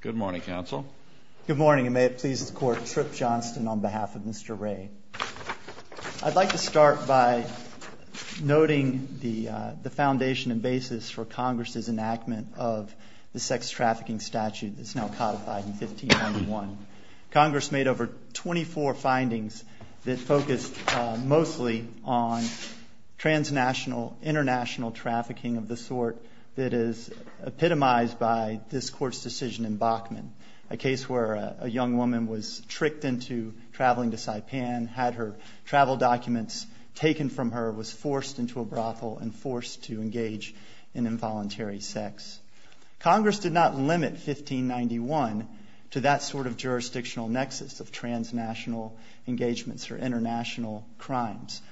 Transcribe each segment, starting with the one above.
Good morning, counsel. Good morning, and may it please the Court, Trip Johnston on behalf of Mr. Ray. I'd like to start by noting the foundation and basis for Congress's enactment of the sex trafficking statute that's now codified in 1591. Congress made over 24 findings that focused mostly on transnational, international trafficking of the sort that is epitomized by this Court's decision in Bachman, a case where a young woman was tricked into traveling to Saipan, had her travel documents taken from her, was forced into a brothel, and forced to engage in involuntary sex. Congress did not limit 1591 to that sort of jurisdictional nexus of transnational engagements or international crimes.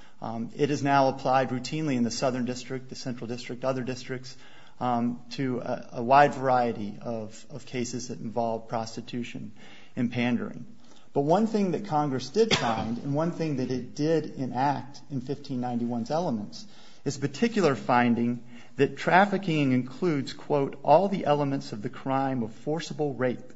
It is now applied routinely in the Southern District, the Central District, other districts, to a wide variety of cases that involve prostitution and pandering. But one thing that Congress did find, and one thing that it did enact in 1591's elements, is a particular finding that trafficking includes, quote, of the crime of forcible rape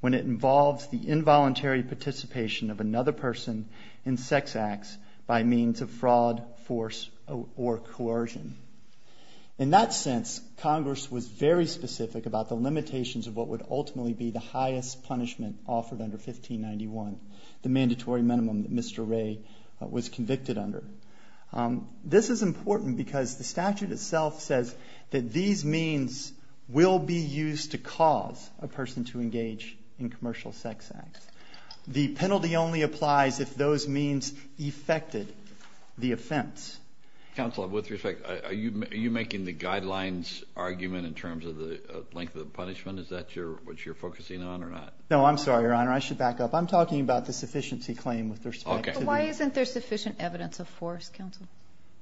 when it involves the involuntary participation of another person in sex acts by means of fraud, force, or coercion. In that sense, Congress was very specific about the limitations of what would ultimately be the highest punishment offered under 1591, the mandatory minimum that Mr. Ray was convicted under. This is important because the statute itself says that these means will be used to cause a person to engage in commercial sex acts. The penalty only applies if those means effected the offense. Counsel, with respect, are you making the guidelines argument in terms of the length of the punishment? Is that what you're focusing on or not? No, I'm sorry, Your Honor. I should back up. I'm talking about the sufficiency claim with respect to the Why isn't there sufficient evidence of force, Counsel?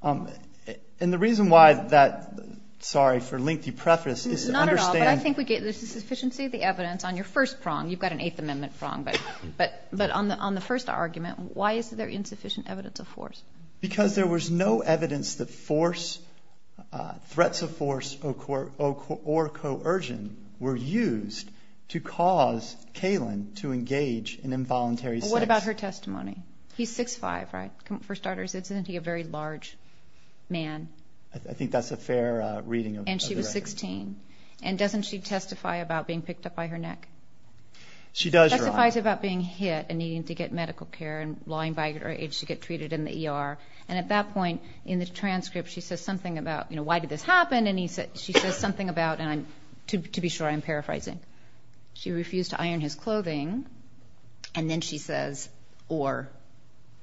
And the reason why that, sorry for lengthy preface, is to understand Not at all, but I think we get the sufficiency of the evidence on your first prong. You've got an Eighth Amendment prong, but on the first argument, why is there insufficient evidence of force? Because there was no evidence that force, threats of force, or coercion were used to cause Kaylin to engage in involuntary sex. Well, what about her testimony? He's 6'5", right? For starters, isn't he a very large man? I think that's a fair reading of the record. And she was 16. And doesn't she testify about being picked up by her neck? She does, Your Honor. She testifies about being hit and needing to get medical care and lying by her age to get treated in the ER. And at that point in the transcript, she says something about, you know, why did this happen? And she says something about, and to be sure, I'm paraphrasing. She refused to iron his clothing. And then she says or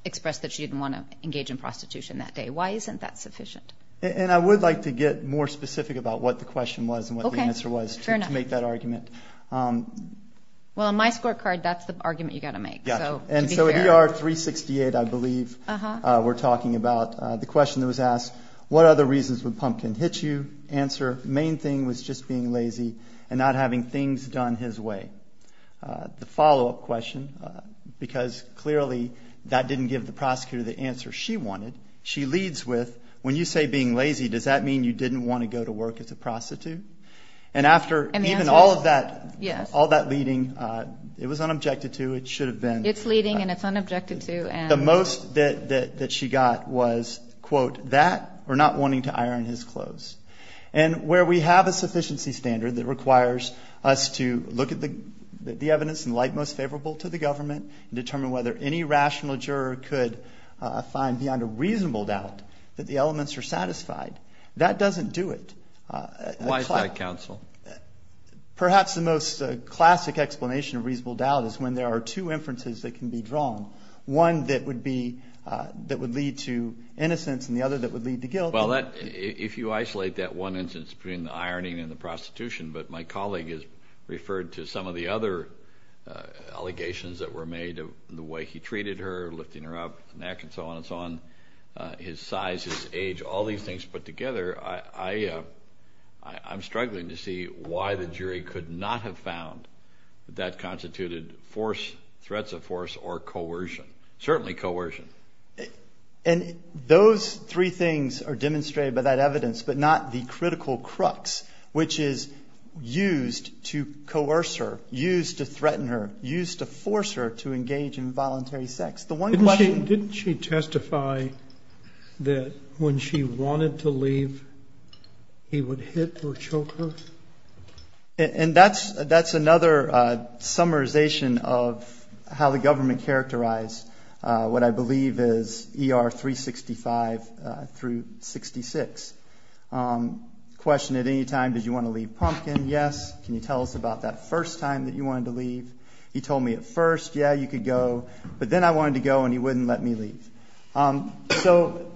expressed that she didn't want to engage in prostitution that day. Why isn't that sufficient? And I would like to get more specific about what the question was and what the answer was to make that argument. Well, on my scorecard, that's the argument you've got to make. And so at ER 368, I believe, we're talking about the question that was asked, what other reasons would Pumpkin hit you? The answer, main thing was just being lazy and not having things done his way. The follow-up question, because clearly that didn't give the prosecutor the answer she wanted, she leads with, when you say being lazy, does that mean you didn't want to go to work as a prostitute? And after even all of that leading, it was unobjected to, it should have been. It's leading and it's unobjected to. The most that she got was, quote, that or not wanting to iron his clothes. And where we have a sufficiency standard that requires us to look at the evidence and like most favorable to the government and determine whether any rational juror could find beyond a reasonable doubt that the elements are satisfied, that doesn't do it. Why is that, counsel? Perhaps the most classic explanation of reasonable doubt is when there are two inferences that can be drawn. One that would lead to innocence and the other that would lead to guilt. Well, if you isolate that one instance between the ironing and the prostitution, but my colleague has referred to some of the other allegations that were made, the way he treated her, lifting her up, the neck and so on and so on, his size, his age, all these things put together, I'm struggling to see why the jury could not have found that that constituted force, threats of force or coercion, certainly coercion. And those three things are demonstrated by that evidence, but not the critical crux, which is used to coerce her, used to threaten her, used to force her to engage in voluntary sex. The one question – Didn't she testify that when she wanted to leave, he would hit or choke her? And that's another summarization of how the government characterized what I believe is ER 365 through 66. Question at any time, did you want to leave Pumpkin? Yes. Can you tell us about that first time that you wanted to leave? He told me at first, yeah, you could go. But then I wanted to go and he wouldn't let me leave. So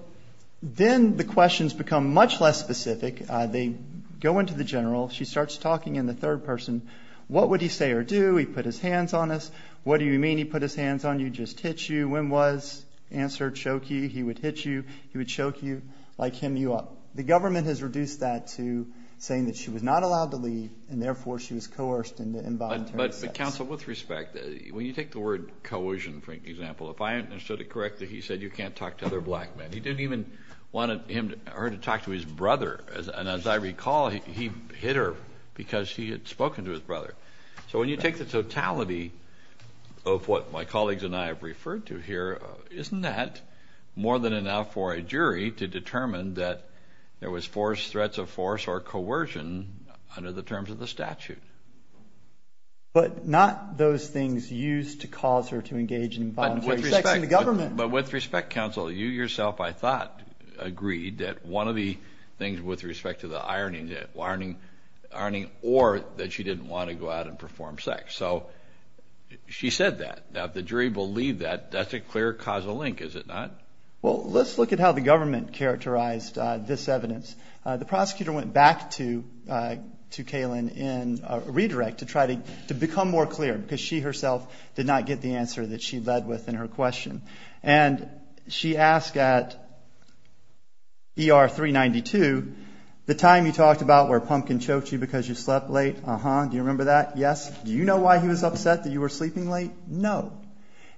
then the questions become much less specific. They go into the general. She starts talking in the third person. What would he say or do? He put his hands on us. What do you mean he put his hands on you, just hit you? When was, answer, choke you. He would hit you. He would choke you, like him, you up. The government has reduced that to saying that she was not allowed to leave, and therefore she was coerced into involuntary sex. But, counsel, with respect, when you take the word coercion, for example, if I understood it correctly, he said you can't talk to other black men. He didn't even want her to talk to his brother. And as I recall, he hit her because she had spoken to his brother. So when you take the totality of what my colleagues and I have referred to here, isn't that more than enough for a jury to determine that there was force, threats of force, or coercion under the terms of the statute? But not those things used to cause her to engage in involuntary sex in the government. But with respect, counsel, you yourself, I thought, agreed that one of the things with respect to the ironing, that ironing or that she didn't want to go out and perform sex. So she said that. Now, if the jury believed that, that's a clear causal link, is it not? Well, let's look at how the government characterized this evidence. The prosecutor went back to Kaylin in a redirect to try to become more clear because she herself did not get the answer that she led with in her question. And she asked at ER 392, the time you talked about where Pumpkin choked you because you slept late, do you remember that? Yes. Do you know why he was upset that you were sleeping late? No.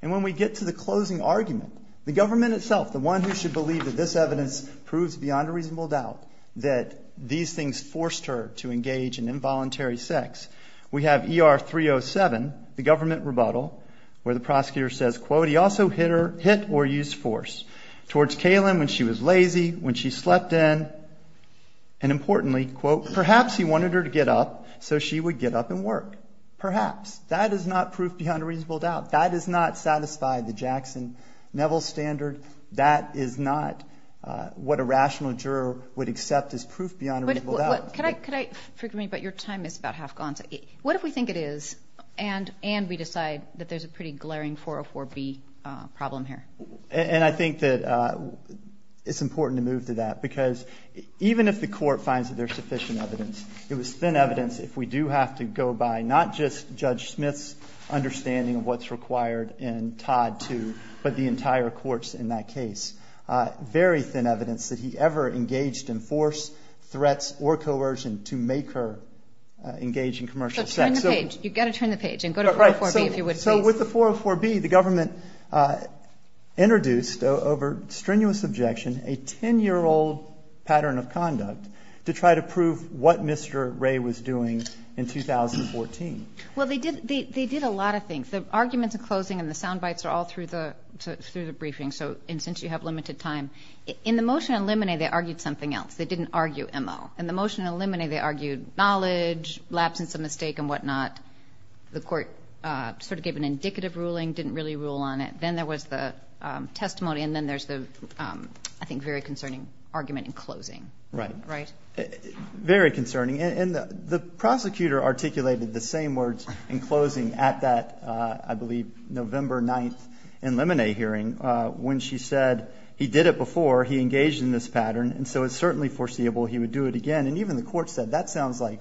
And when we get to the closing argument, the government itself, the one who should believe that this evidence proves beyond a reasonable doubt that these things forced her to engage in involuntary sex, we have ER 307, the government rebuttal, where the prosecutor says, quote, he also hit or used force towards Kaylin when she was lazy, when she slept in, and importantly, quote, perhaps he wanted her to get up so she would get up and work. Perhaps. That is not proof beyond a reasonable doubt. That does not satisfy the Jackson Neville standard. That is not what a rational juror would accept as proof beyond a reasonable doubt. Forgive me, but your time is about half gone. What if we think it is, and we decide that there's a pretty glaring 404B problem here? And I think that it's important to move to that, because even if the court finds that there's sufficient evidence, it was thin evidence if we do have to go by not just Judge Smith's understanding of what's required in Todd 2, but the entire courts in that case, very thin evidence that he ever engaged in force, threats, or coercion to make her engage in commercial sex. So turn the page. You've got to turn the page and go to 404B if you would, please. So with the 404B, the government introduced over strenuous objection a 10-year-old pattern of conduct to try to prove what Mr. Ray was doing in 2014. Well, they did a lot of things. The arguments in closing and the sound bites are all through the briefing, and since you have limited time. In the motion on limine, they argued something else. They didn't argue MO. In the motion on limine, they argued knowledge, absence of mistake and whatnot. The court sort of gave an indicative ruling, didn't really rule on it. Then there was the testimony, and then there's the I think very concerning argument in closing. Right. Very concerning. And the prosecutor articulated the same words in closing at that, I believe, November 9th in limine hearing when she said he did it before, he engaged in this pattern, and so it's certainly foreseeable he would do it again. And even the court said that sounds like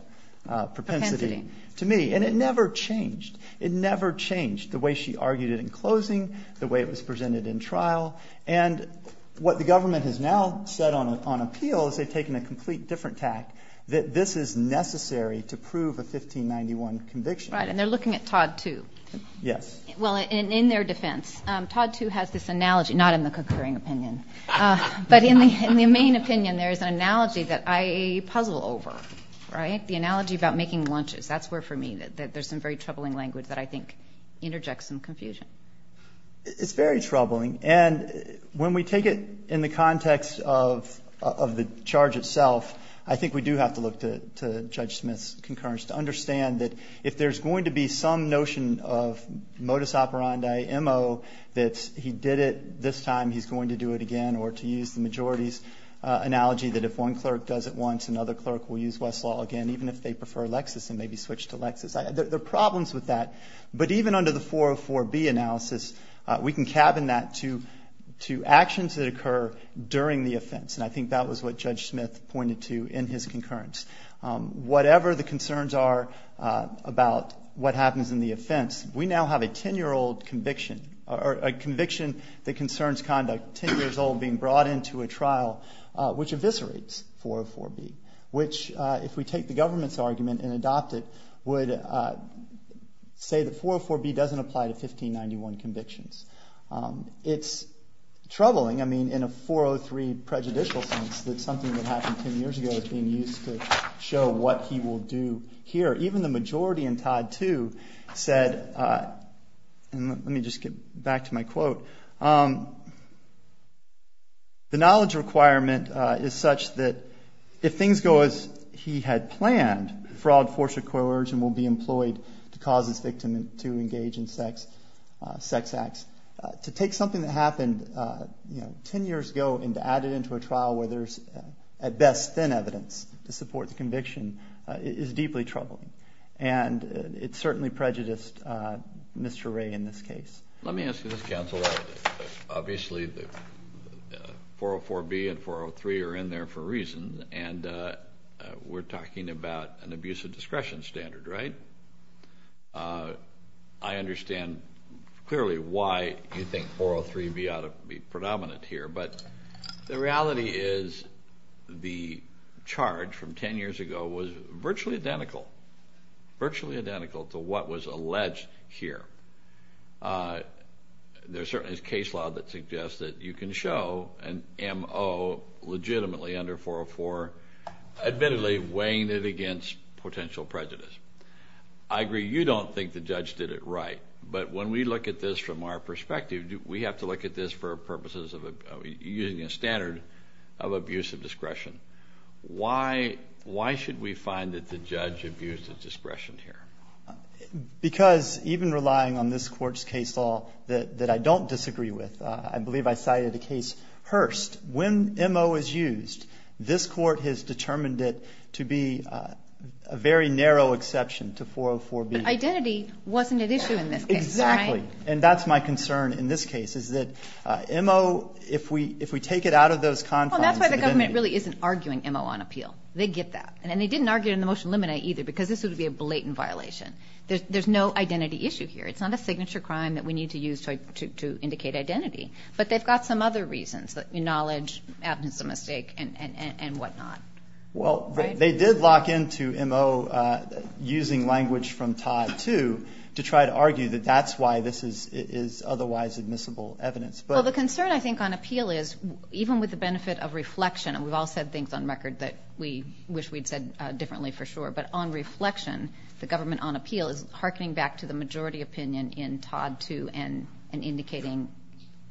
propensity to me. And it never changed. It never changed the way she argued it in closing, the way it was presented in trial. And what the government has now said on appeal is they've taken a complete different tack, that this is necessary to prove a 1591 conviction. Right. And they're looking at Todd too. Yes. Well, in their defense, Todd too has this analogy. Not in the concurring opinion. But in the main opinion, there's an analogy that I puzzle over. Right? The analogy about making lunches. That's where for me there's some very troubling language that I think interjects some confusion. It's very troubling. And when we take it in the context of the charge itself, I think we do have to look to Judge Smith's concurrence to understand that if there's going to be some notion of modus operandi, MO, that he did it, this time he's going to do it again, or to use the majority's analogy that if one clerk does it once, another clerk will use Westlaw again, even if they prefer Lexis and maybe switch to Lexis. There are problems with that. But even under the 404B analysis, we can cabin that to actions that occur during the offense. And I think that was what Judge Smith pointed to in his concurrence. Whatever the concerns are about what happens in the offense, we now have a 10-year-old conviction, or a conviction that concerns conduct 10 years old being brought into a trial, which eviscerates 404B, which if we take the government's argument and adopt it, would say that 404B doesn't apply to 1591 convictions. It's troubling, I mean, in a 403 prejudicial sense, that something that happened 10 years ago is being used to show what he will do here. Even the majority in Todd 2 said, and let me just get back to my quote, the knowledge requirement is such that if things go as he had planned, fraud, force, or coercion will be employed to cause his victim to engage in sex acts. To take something that happened 10 years ago and to add it into a trial where there's, at best, thin evidence to support the conviction, is deeply troubling. And it certainly prejudiced Mr. Wray in this case. Let me ask you this, counsel. Obviously, 404B and 403 are in there for a reason, and we're talking about an abuse of discretion standard, right? I understand clearly why you think 403B ought to be predominant here, but the reality is the charge from 10 years ago was virtually identical, virtually identical to what was alleged here. There certainly is case law that suggests that you can show an M.O. legitimately under 404, admittedly weighing it against potential prejudice. I agree you don't think the judge did it right, but when we look at this from our perspective, we have to look at this for purposes of using a standard of abuse of discretion. Why should we find that the judge abused his discretion here? Because even relying on this Court's case law that I don't disagree with, I believe I cited the case Hearst. When M.O. is used, this Court has determined it to be a very narrow exception to 404B. But identity wasn't at issue in this case, right? And that's my concern in this case, is that M.O., if we take it out of those confines. Well, that's why the government really isn't arguing M.O. on appeal. They get that. And they didn't argue it in the motion to eliminate either, because this would be a blatant violation. There's no identity issue here. It's not a signature crime that we need to use to indicate identity. But they've got some other reasons, knowledge, absence of mistake, and whatnot. Well, they did lock into M.O. using language from Todd, too, to try to argue that that's why this is otherwise admissible evidence. Well, the concern, I think, on appeal is, even with the benefit of reflection, and we've all said things on record that we wish we'd said differently for sure, but on reflection, the government on appeal is hearkening back to the majority opinion in Todd, too, and indicating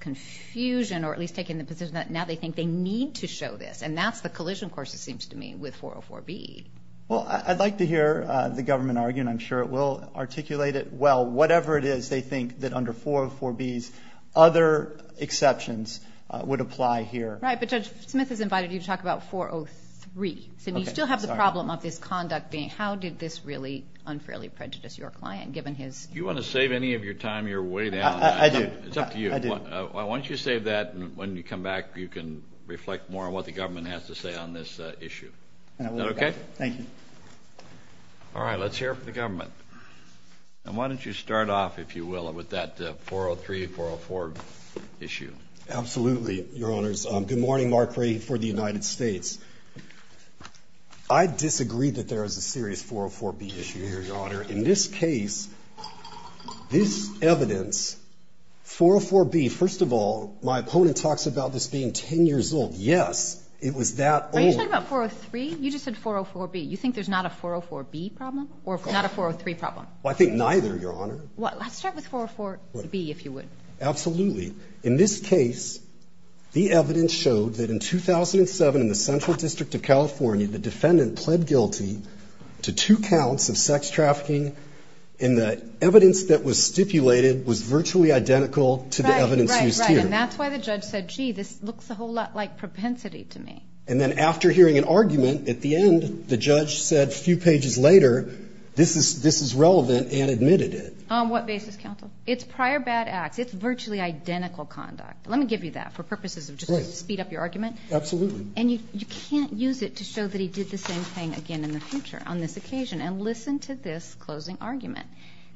confusion or at least taking the position that now they think they need to show this. And that's the collision course, it seems to me, with 404B. Well, I'd like to hear the government argue, and I'm sure it will articulate it well, whatever it is they think that under 404B's other exceptions would apply here. Right. But Judge Smith has invited you to talk about 403. Okay. So you still have the problem of this conduct being how did this really unfairly prejudice your client, given his ---- Do you want to save any of your time? You're way down. I do. It's up to you. I do. Why don't you save that, and when you come back you can reflect more on what the government has to say on this issue. Is that okay? Thank you. All right. Let's hear it from the government. And why don't you start off, if you will, with that 403, 404 issue. Absolutely, Your Honors. Good morning. Mark Ray for the United States. I disagree that there is a serious 404B issue here, Your Honor. In this case, this evidence, 404B, first of all, my opponent talks about this being 10 years old. Yes, it was that old. Are you talking about 403? You just said 404B. You think there's not a 404B problem or not a 403 problem? Well, I think neither, Your Honor. Well, let's start with 404B, if you would. Absolutely. In this case, the evidence showed that in 2007 in the Central District of California, the defendant pled guilty to two counts of sex trafficking, and the evidence that was stipulated was virtually identical to the evidence used here. Right, right, right. And that's why the judge said, gee, this looks a whole lot like propensity to me. And then after hearing an argument at the end, the judge said a few pages later, this is relevant and admitted it. On what basis, counsel? It's prior bad acts. It's virtually identical conduct. Let me give you that for purposes of just to speed up your argument. Absolutely. And you can't use it to show that he did the same thing again in the future on this occasion. And listen to this closing argument.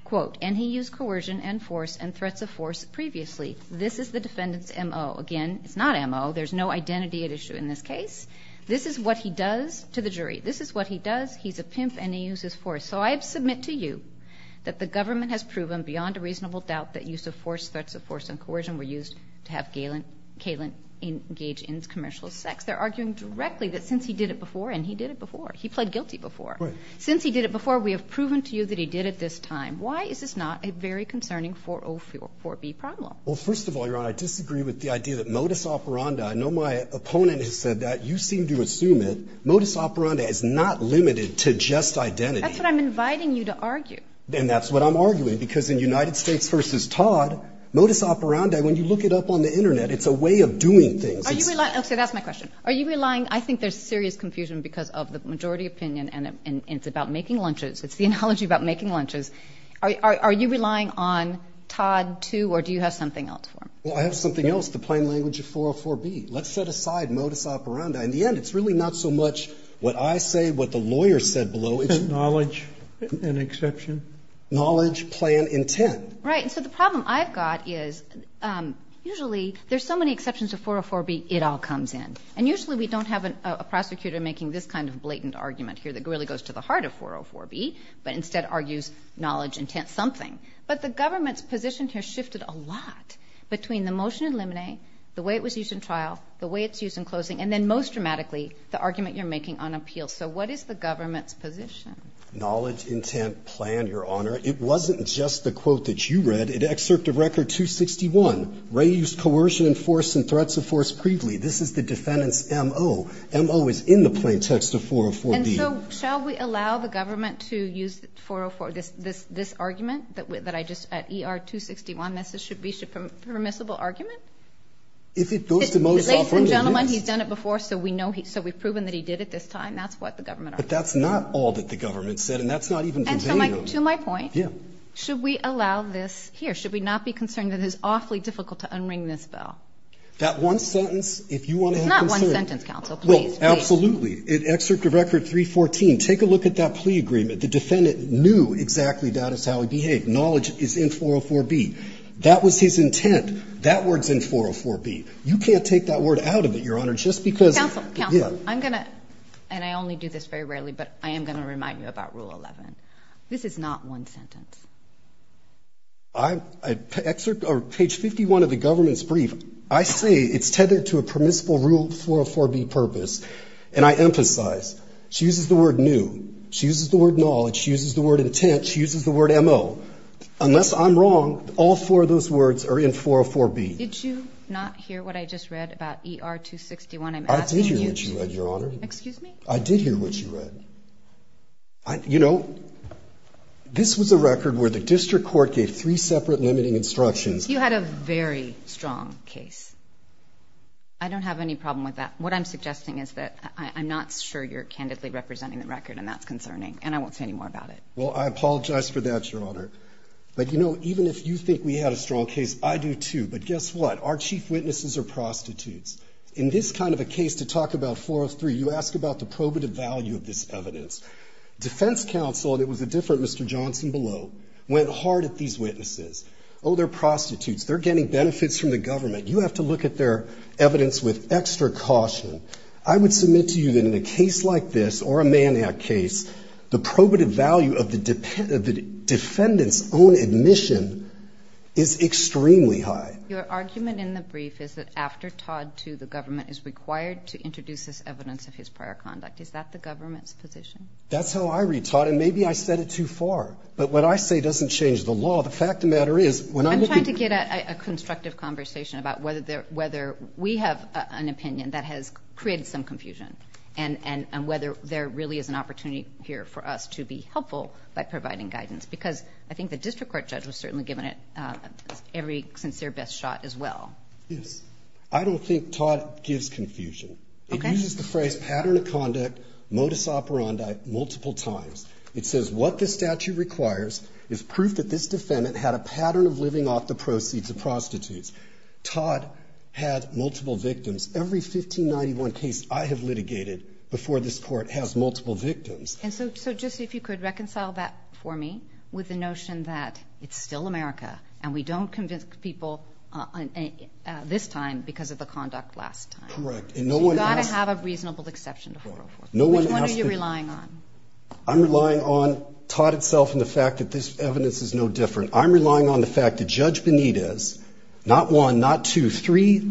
Quote, and he used coercion and force and threats of force previously. This is the defendant's M.O. Again, it's not M.O. There's no identity at issue in this case. This is what he does to the jury. This is what he does. He's a pimp and he uses force. So I submit to you that the government has proven beyond a reasonable doubt that use of force, threats of force and coercion were used to have Galen engage in commercial sex. They're arguing directly that since he did it before, and he did it before, he pled guilty before. Right. Since he did it before, we have proven to you that he did it this time. Why is this not a very concerning 404B problem? Well, first of all, Your Honor, I disagree with the idea that modus operandi. I know my opponent has said that. You seem to assume it. Modus operandi is not limited to just identity. That's what I'm inviting you to argue. And that's what I'm arguing. Because in United States v. Todd, modus operandi, when you look it up on the Internet, it's a way of doing things. Are you relying? Okay, that's my question. Are you relying? I think there's serious confusion because of the majority opinion and it's about making lunches. It's the analogy about making lunches. Are you relying on Todd, too, or do you have something else for me? Well, I have something else, the plain language of 404B. Let's set aside modus operandi. In the end, it's really not so much what I say, what the lawyer said below. It's knowledge and exception. Knowledge, plan, intent. Right. So the problem I've got is usually there's so many exceptions to 404B, it all comes in. And usually we don't have a prosecutor making this kind of blatant argument here that really goes to the heart of 404B, but instead argues knowledge, intent, something. But the government's position here shifted a lot between the motion in limine, the way it was used in trial, the way it's used in closing, and then most dramatically, the argument you're making on appeals. So what is the government's position? Knowledge, intent, plan, Your Honor. It wasn't just the quote that you read. In Excerpt of Record 261, Ray used coercion and force and threats of force previously. This is the defendant's MO. MO is in the plain text of 404B. And so shall we allow the government to use 404, this argument that I just, at ER 261, that this should be a permissible argument? If it goes to most often, at least. Ladies and gentlemen, he's done it before, so we know, so we've proven that he did it this time. That's what the government argued. But that's not all that the government said, and that's not even conveyed on you. And to my point. Yeah. Should we allow this here? Should we not be concerned that it's awfully difficult to unring this bell? That one sentence, if you want to have concern. It's not one sentence, counsel. Please, please. Absolutely. In Excerpt of Record 314, take a look at that plea agreement. The defendant knew exactly that is how he behaved. Knowledge is in 404B. That was his intent. That word's in 404B. You can't take that word out of it, Your Honor, just because. Counsel, counsel. I'm going to, and I only do this very rarely, but I am going to remind you about Rule 11. This is not one sentence. I, Excerpt, or page 51 of the government's brief, I say it's tethered to a permissible rule 404B purpose. And I emphasize, she uses the word new. She uses the word knowledge. She uses the word intent. She uses the word MO. Unless I'm wrong, all four of those words are in 404B. Did you not hear what I just read about ER 261? I'm asking you to. I did hear what you read, Your Honor. Excuse me? I did hear what you read. You know, this was a record where the district court gave three separate limiting instructions. You had a very strong case. I don't have any problem with that. What I'm suggesting is that I'm not sure you're candidly representing the record, and that's concerning. And I won't say any more about it. Well, I apologize for that, Your Honor. But, you know, even if you think we had a strong case, I do too. But guess what? Our chief witnesses are prostitutes. In this kind of a case to talk about 403, you ask about the probative value of this evidence. Defense counsel, and it was a different Mr. Johnson below, went hard at these witnesses. Oh, they're prostitutes. They're getting benefits from the government. You have to look at their evidence with extra caution. I would submit to you that in a case like this or a Manhattan case, the probative value of the defendant's own admission is extremely high. Your argument in the brief is that after Todd to the government is required to introduce this evidence of his prior conduct. Is that the government's position? That's how I read, Todd. And maybe I said it too far. But what I say doesn't change the law. Well, the fact of the matter is when I'm looking. I'm trying to get a constructive conversation about whether we have an opinion that has created some confusion and whether there really is an opportunity here for us to be helpful by providing guidance. Because I think the district court judge was certainly giving it every sincere best shot as well. Yes. I don't think Todd gives confusion. Okay. It uses the phrase pattern of conduct, modus operandi, multiple times. It says what the statute requires is proof that this defendant had a pattern of living off the proceeds of prostitutes. Todd had multiple victims. Every 1591 case I have litigated before this Court has multiple victims. And so just if you could reconcile that for me with the notion that it's still America and we don't convince people this time because of the conduct last time. Correct. And no one has to. You've got to have a reasonable exception to 404. No one has to. Which one are you relying on? I'm relying on Todd itself and the fact that this evidence is no different. I'm relying on the fact that Judge Benitez, not one, not two, three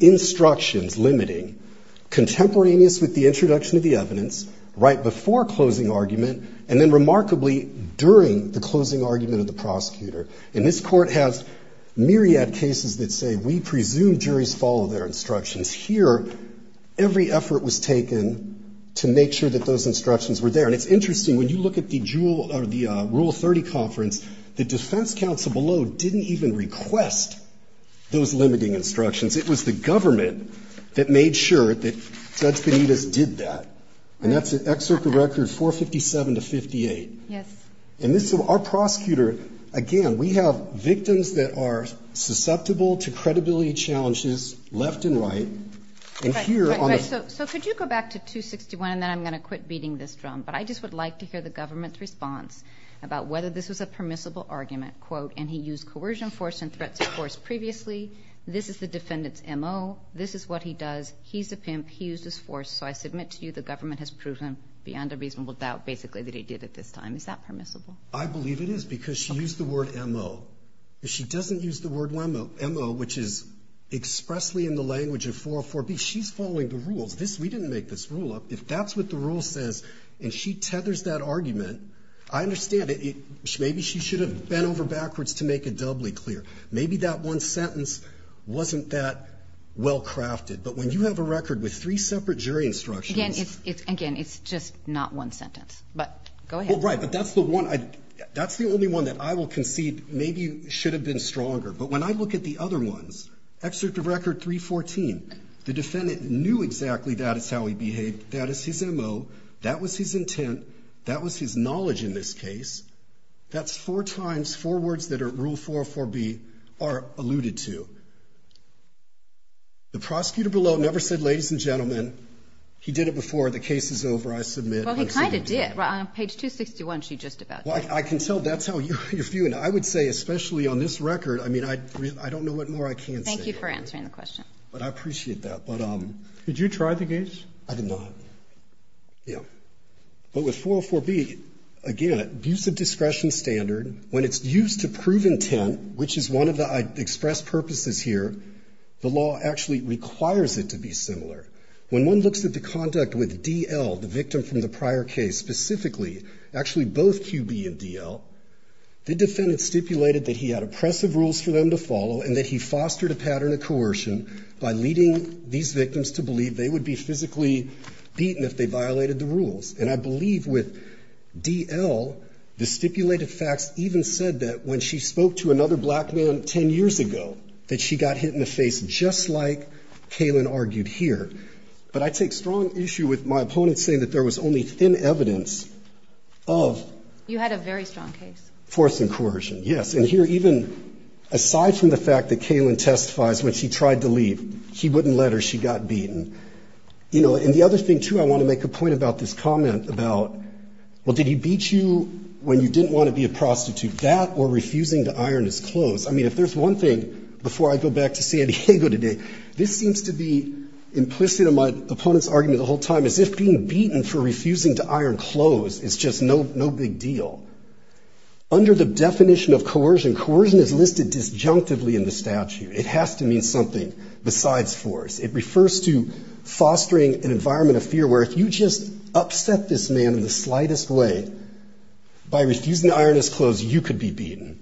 instructions limiting contemporaneous with the introduction of the evidence right before closing argument and then remarkably during the closing argument of the prosecutor. And this Court has myriad cases that say we presume juries follow their instructions. Here, every effort was taken to make sure that those instructions were there. And it's interesting. When you look at the rule 30 conference, the defense counsel below didn't even request those limiting instructions. It was the government that made sure that Judge Benitez did that. And that's an excerpt of record 457 to 58. Yes. And our prosecutor, again, we have victims that are susceptible to credibility challenges left and right. So could you go back to 261 and then I'm going to quit beating this drum. But I just would like to hear the government's response about whether this was a permissible argument, quote, and he used coercion force and threats of force previously. This is the defendant's MO. This is what he does. He's a pimp. He used his force. So I submit to you the government has proven beyond a reasonable doubt basically that he did at this time. Is that permissible? I believe it is because she used the word MO. If she doesn't use the word MO, which is expressly in the language of 404B, she's following the rules. We didn't make this rule up. If that's what the rule says and she tethers that argument, I understand it. Maybe she should have bent over backwards to make it doubly clear. Maybe that one sentence wasn't that well crafted. But when you have a record with three separate jury instructions. Again, it's just not one sentence. But go ahead. Right. That's the only one that I will concede maybe should have been stronger. But when I look at the other ones, excerpt of record 314, the defendant knew exactly that is how he behaved. That is his MO. That was his intent. That was his knowledge in this case. That's four times, four words that rule 404B are alluded to. The prosecutor below never said, ladies and gentlemen, he did it before. The case is over. I submit. Well, he kind of did. On page 261, she just about did. Well, I can tell that's how you're viewing it. I would say, especially on this record, I mean, I don't know what more I can say. Thank you for answering the question. But I appreciate that. But. Did you try the case? I did not. Yeah. But with 404B, again, abuse of discretion standard, when it's used to prove intent, which is one of the expressed purposes here, the law actually requires it to be similar. When one looks at the conduct with DL, the victim from the prior case specifically, actually both QB and DL, the defendant stipulated that he had oppressive rules for them to follow and that he fostered a pattern of coercion by leading these victims to believe they would be physically beaten if they violated the rules. And I believe with DL, the stipulated facts even said that when she spoke to another But I take strong issue with my opponent saying that there was only thin evidence of. You had a very strong case. Force and coercion, yes. And here even aside from the fact that Kaylin testifies when she tried to leave, he wouldn't let her. She got beaten. You know, and the other thing, too, I want to make a point about this comment about, well, did he beat you when you didn't want to be a prostitute? That or refusing to iron his clothes. I mean, if there's one thing, before I go back to San Diego today, this seems to be implicit in my opponent's argument the whole time as if being beaten for refusing to iron clothes is just no big deal. Under the definition of coercion, coercion is listed disjunctively in the statute. It has to mean something besides force. It refers to fostering an environment of fear where if you just upset this man in the slightest way by refusing to iron his clothes, you could be beaten.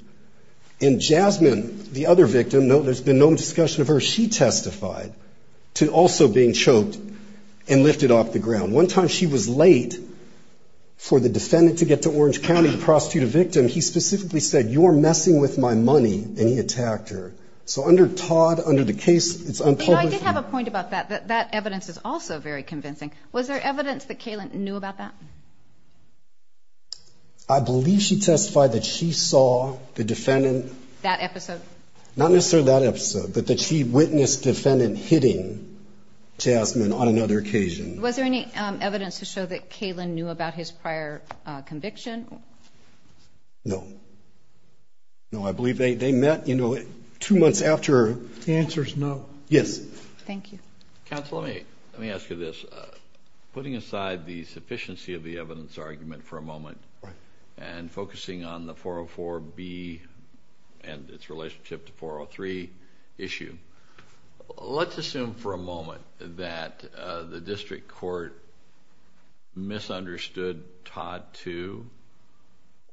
And Jasmine, the other victim, there's been no discussion of her, she testified to also being choked and lifted off the ground. One time she was late for the defendant to get to Orange County to prostitute a victim. He specifically said, you're messing with my money, and he attacked her. So under Todd, under the case, it's unpublished. I did have a point about that. That evidence is also very convincing. Was there evidence that Kaylin knew about that? I believe she testified that she saw the defendant. That episode? Not necessarily that episode, but that she witnessed the defendant hitting Jasmine on another occasion. Was there any evidence to show that Kaylin knew about his prior conviction? No. No, I believe they met, you know, two months after. The answer is no. Yes. Thank you. Counsel, let me ask you this. Putting aside the sufficiency of the evidence argument for a moment and focusing on the 404B and its relationship to 403 issue, let's assume for a moment that the district court misunderstood Todd 2,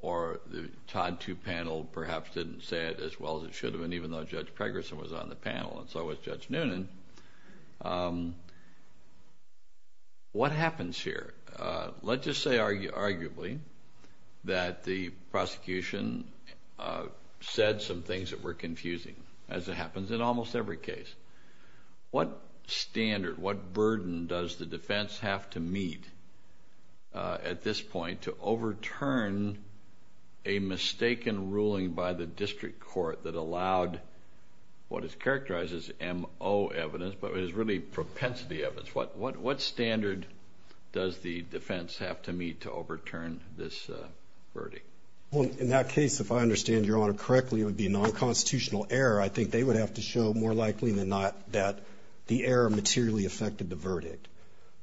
or the Todd 2 panel perhaps didn't say it as well as it should have, and even though Judge Pregerson was on the panel, and so was Judge Noonan. What happens here? Let's just say arguably that the prosecution said some things that were confusing, as it happens in almost every case. What standard, what burden does the defense have to meet at this point to overturn a mistaken ruling by the district court that allowed what is characterized as MO evidence, but is really propensity evidence? What standard does the defense have to meet to overturn this verdict? Well, in that case, if I understand Your Honor correctly, it would be non-constitutional error. I think they would have to show more likely than not that the error materially affected the verdict,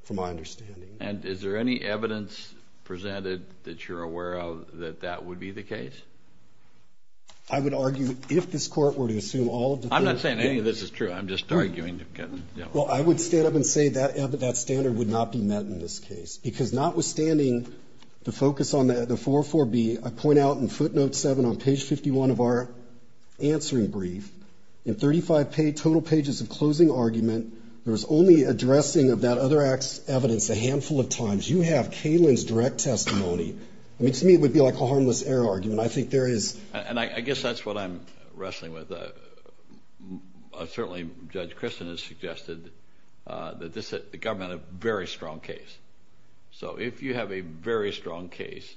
from my understanding. And is there any evidence presented that you're aware of that that would be the case? I would argue if this court were to assume all of the evidence. I'm not saying any of this is true. I'm just arguing. Well, I would stand up and say that standard would not be met in this case, because notwithstanding the focus on the 404B, I point out in footnote 7 on page 51 of our answering brief, in 35 total pages of closing argument, there was only addressing of that other evidence a handful of times. You have Kalin's direct testimony. To me, it would be like a harmless error argument. I think there is. And I guess that's what I'm wrestling with. Certainly, Judge Christian has suggested that the government had a very strong case. So if you have a very strong case,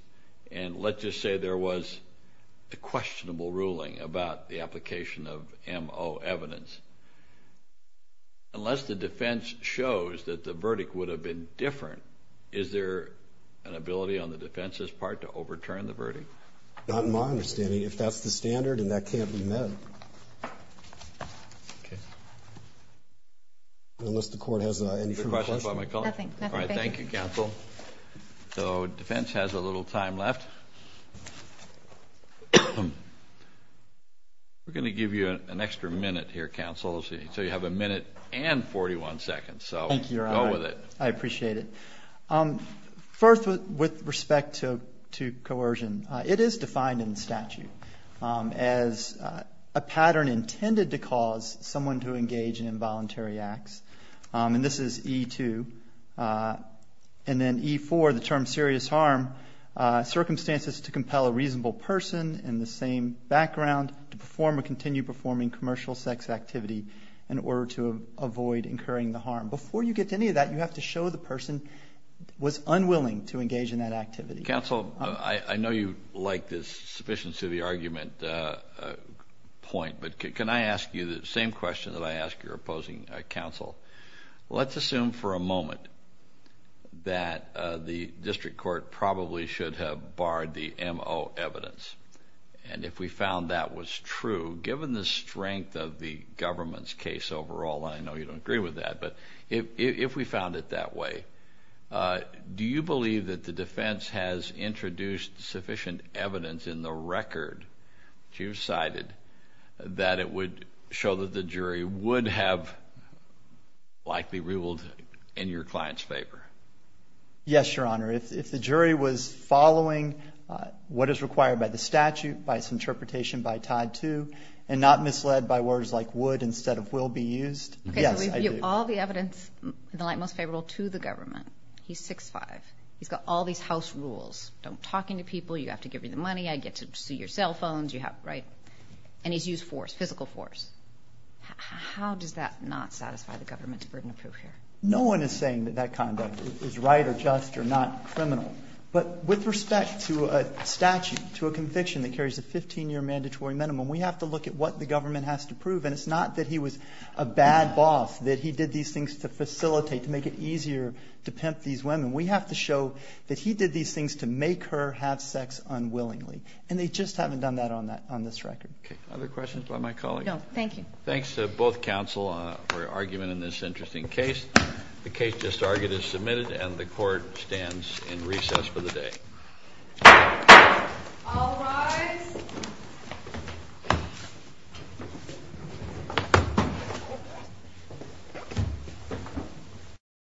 and let's just say there was a questionable ruling about the application of MO evidence, unless the defense shows that the verdict would have been different, is there an ability on the defense's part to overturn the verdict? Not in my understanding. If that's the standard, then that can't be met. Okay. Unless the court has any further questions. Are there questions by my colleague? Nothing. Nothing. Thank you. All right. Thank you, counsel. So defense has a little time left. We're going to give you an extra minute here, counsel. So you have a minute and 41 seconds. So go with it. Thank you, Your Honor. I appreciate it. First, with respect to coercion, it is defined in the statute as a pattern intended to cause someone to engage in involuntary acts. And this is E2. And then E4, the term serious harm, circumstances to compel a reasonable person in the same background to perform or continue performing commercial sex activity in order to avoid incurring the harm. Before you get to any of that, you have to show the person was unwilling to engage in that activity. Counsel, I know you like this sufficiency of the argument point, but can I ask you the same question that I ask your opposing counsel? Let's assume for a moment that the district court probably should have barred the MO evidence. And if we found that was true, given the strength of the government's case overall, and I know you don't agree with that, but if we found it that way, do you believe that the defense has introduced sufficient evidence in the record that you've cited that it would show that the jury would have likely ruled in your client's favor? Yes, Your Honor. If the jury was following what is required by the statute, by its interpretation, by Yes, I do. All the evidence in the light most favorable to the government. He's 6'5". He's got all these house rules. Don't talk into people. You have to give me the money. I get to see your cell phones, right? And he's used force, physical force. How does that not satisfy the government's burden of proof here? No one is saying that that conduct is right or just or not criminal. But with respect to a statute, to a conviction that carries a 15-year mandatory minimum, we have to look at what the government has to prove. And it's not that he was a bad boss, that he did these things to facilitate, to make it easier to pimp these women. We have to show that he did these things to make her have sex unwillingly. And they just haven't done that on this record. Okay. Other questions by my colleague? No. Thank you. Thanks to both counsel for arguing in this interesting case. The case just argued is submitted, and the Court stands in recess for the day. All rise.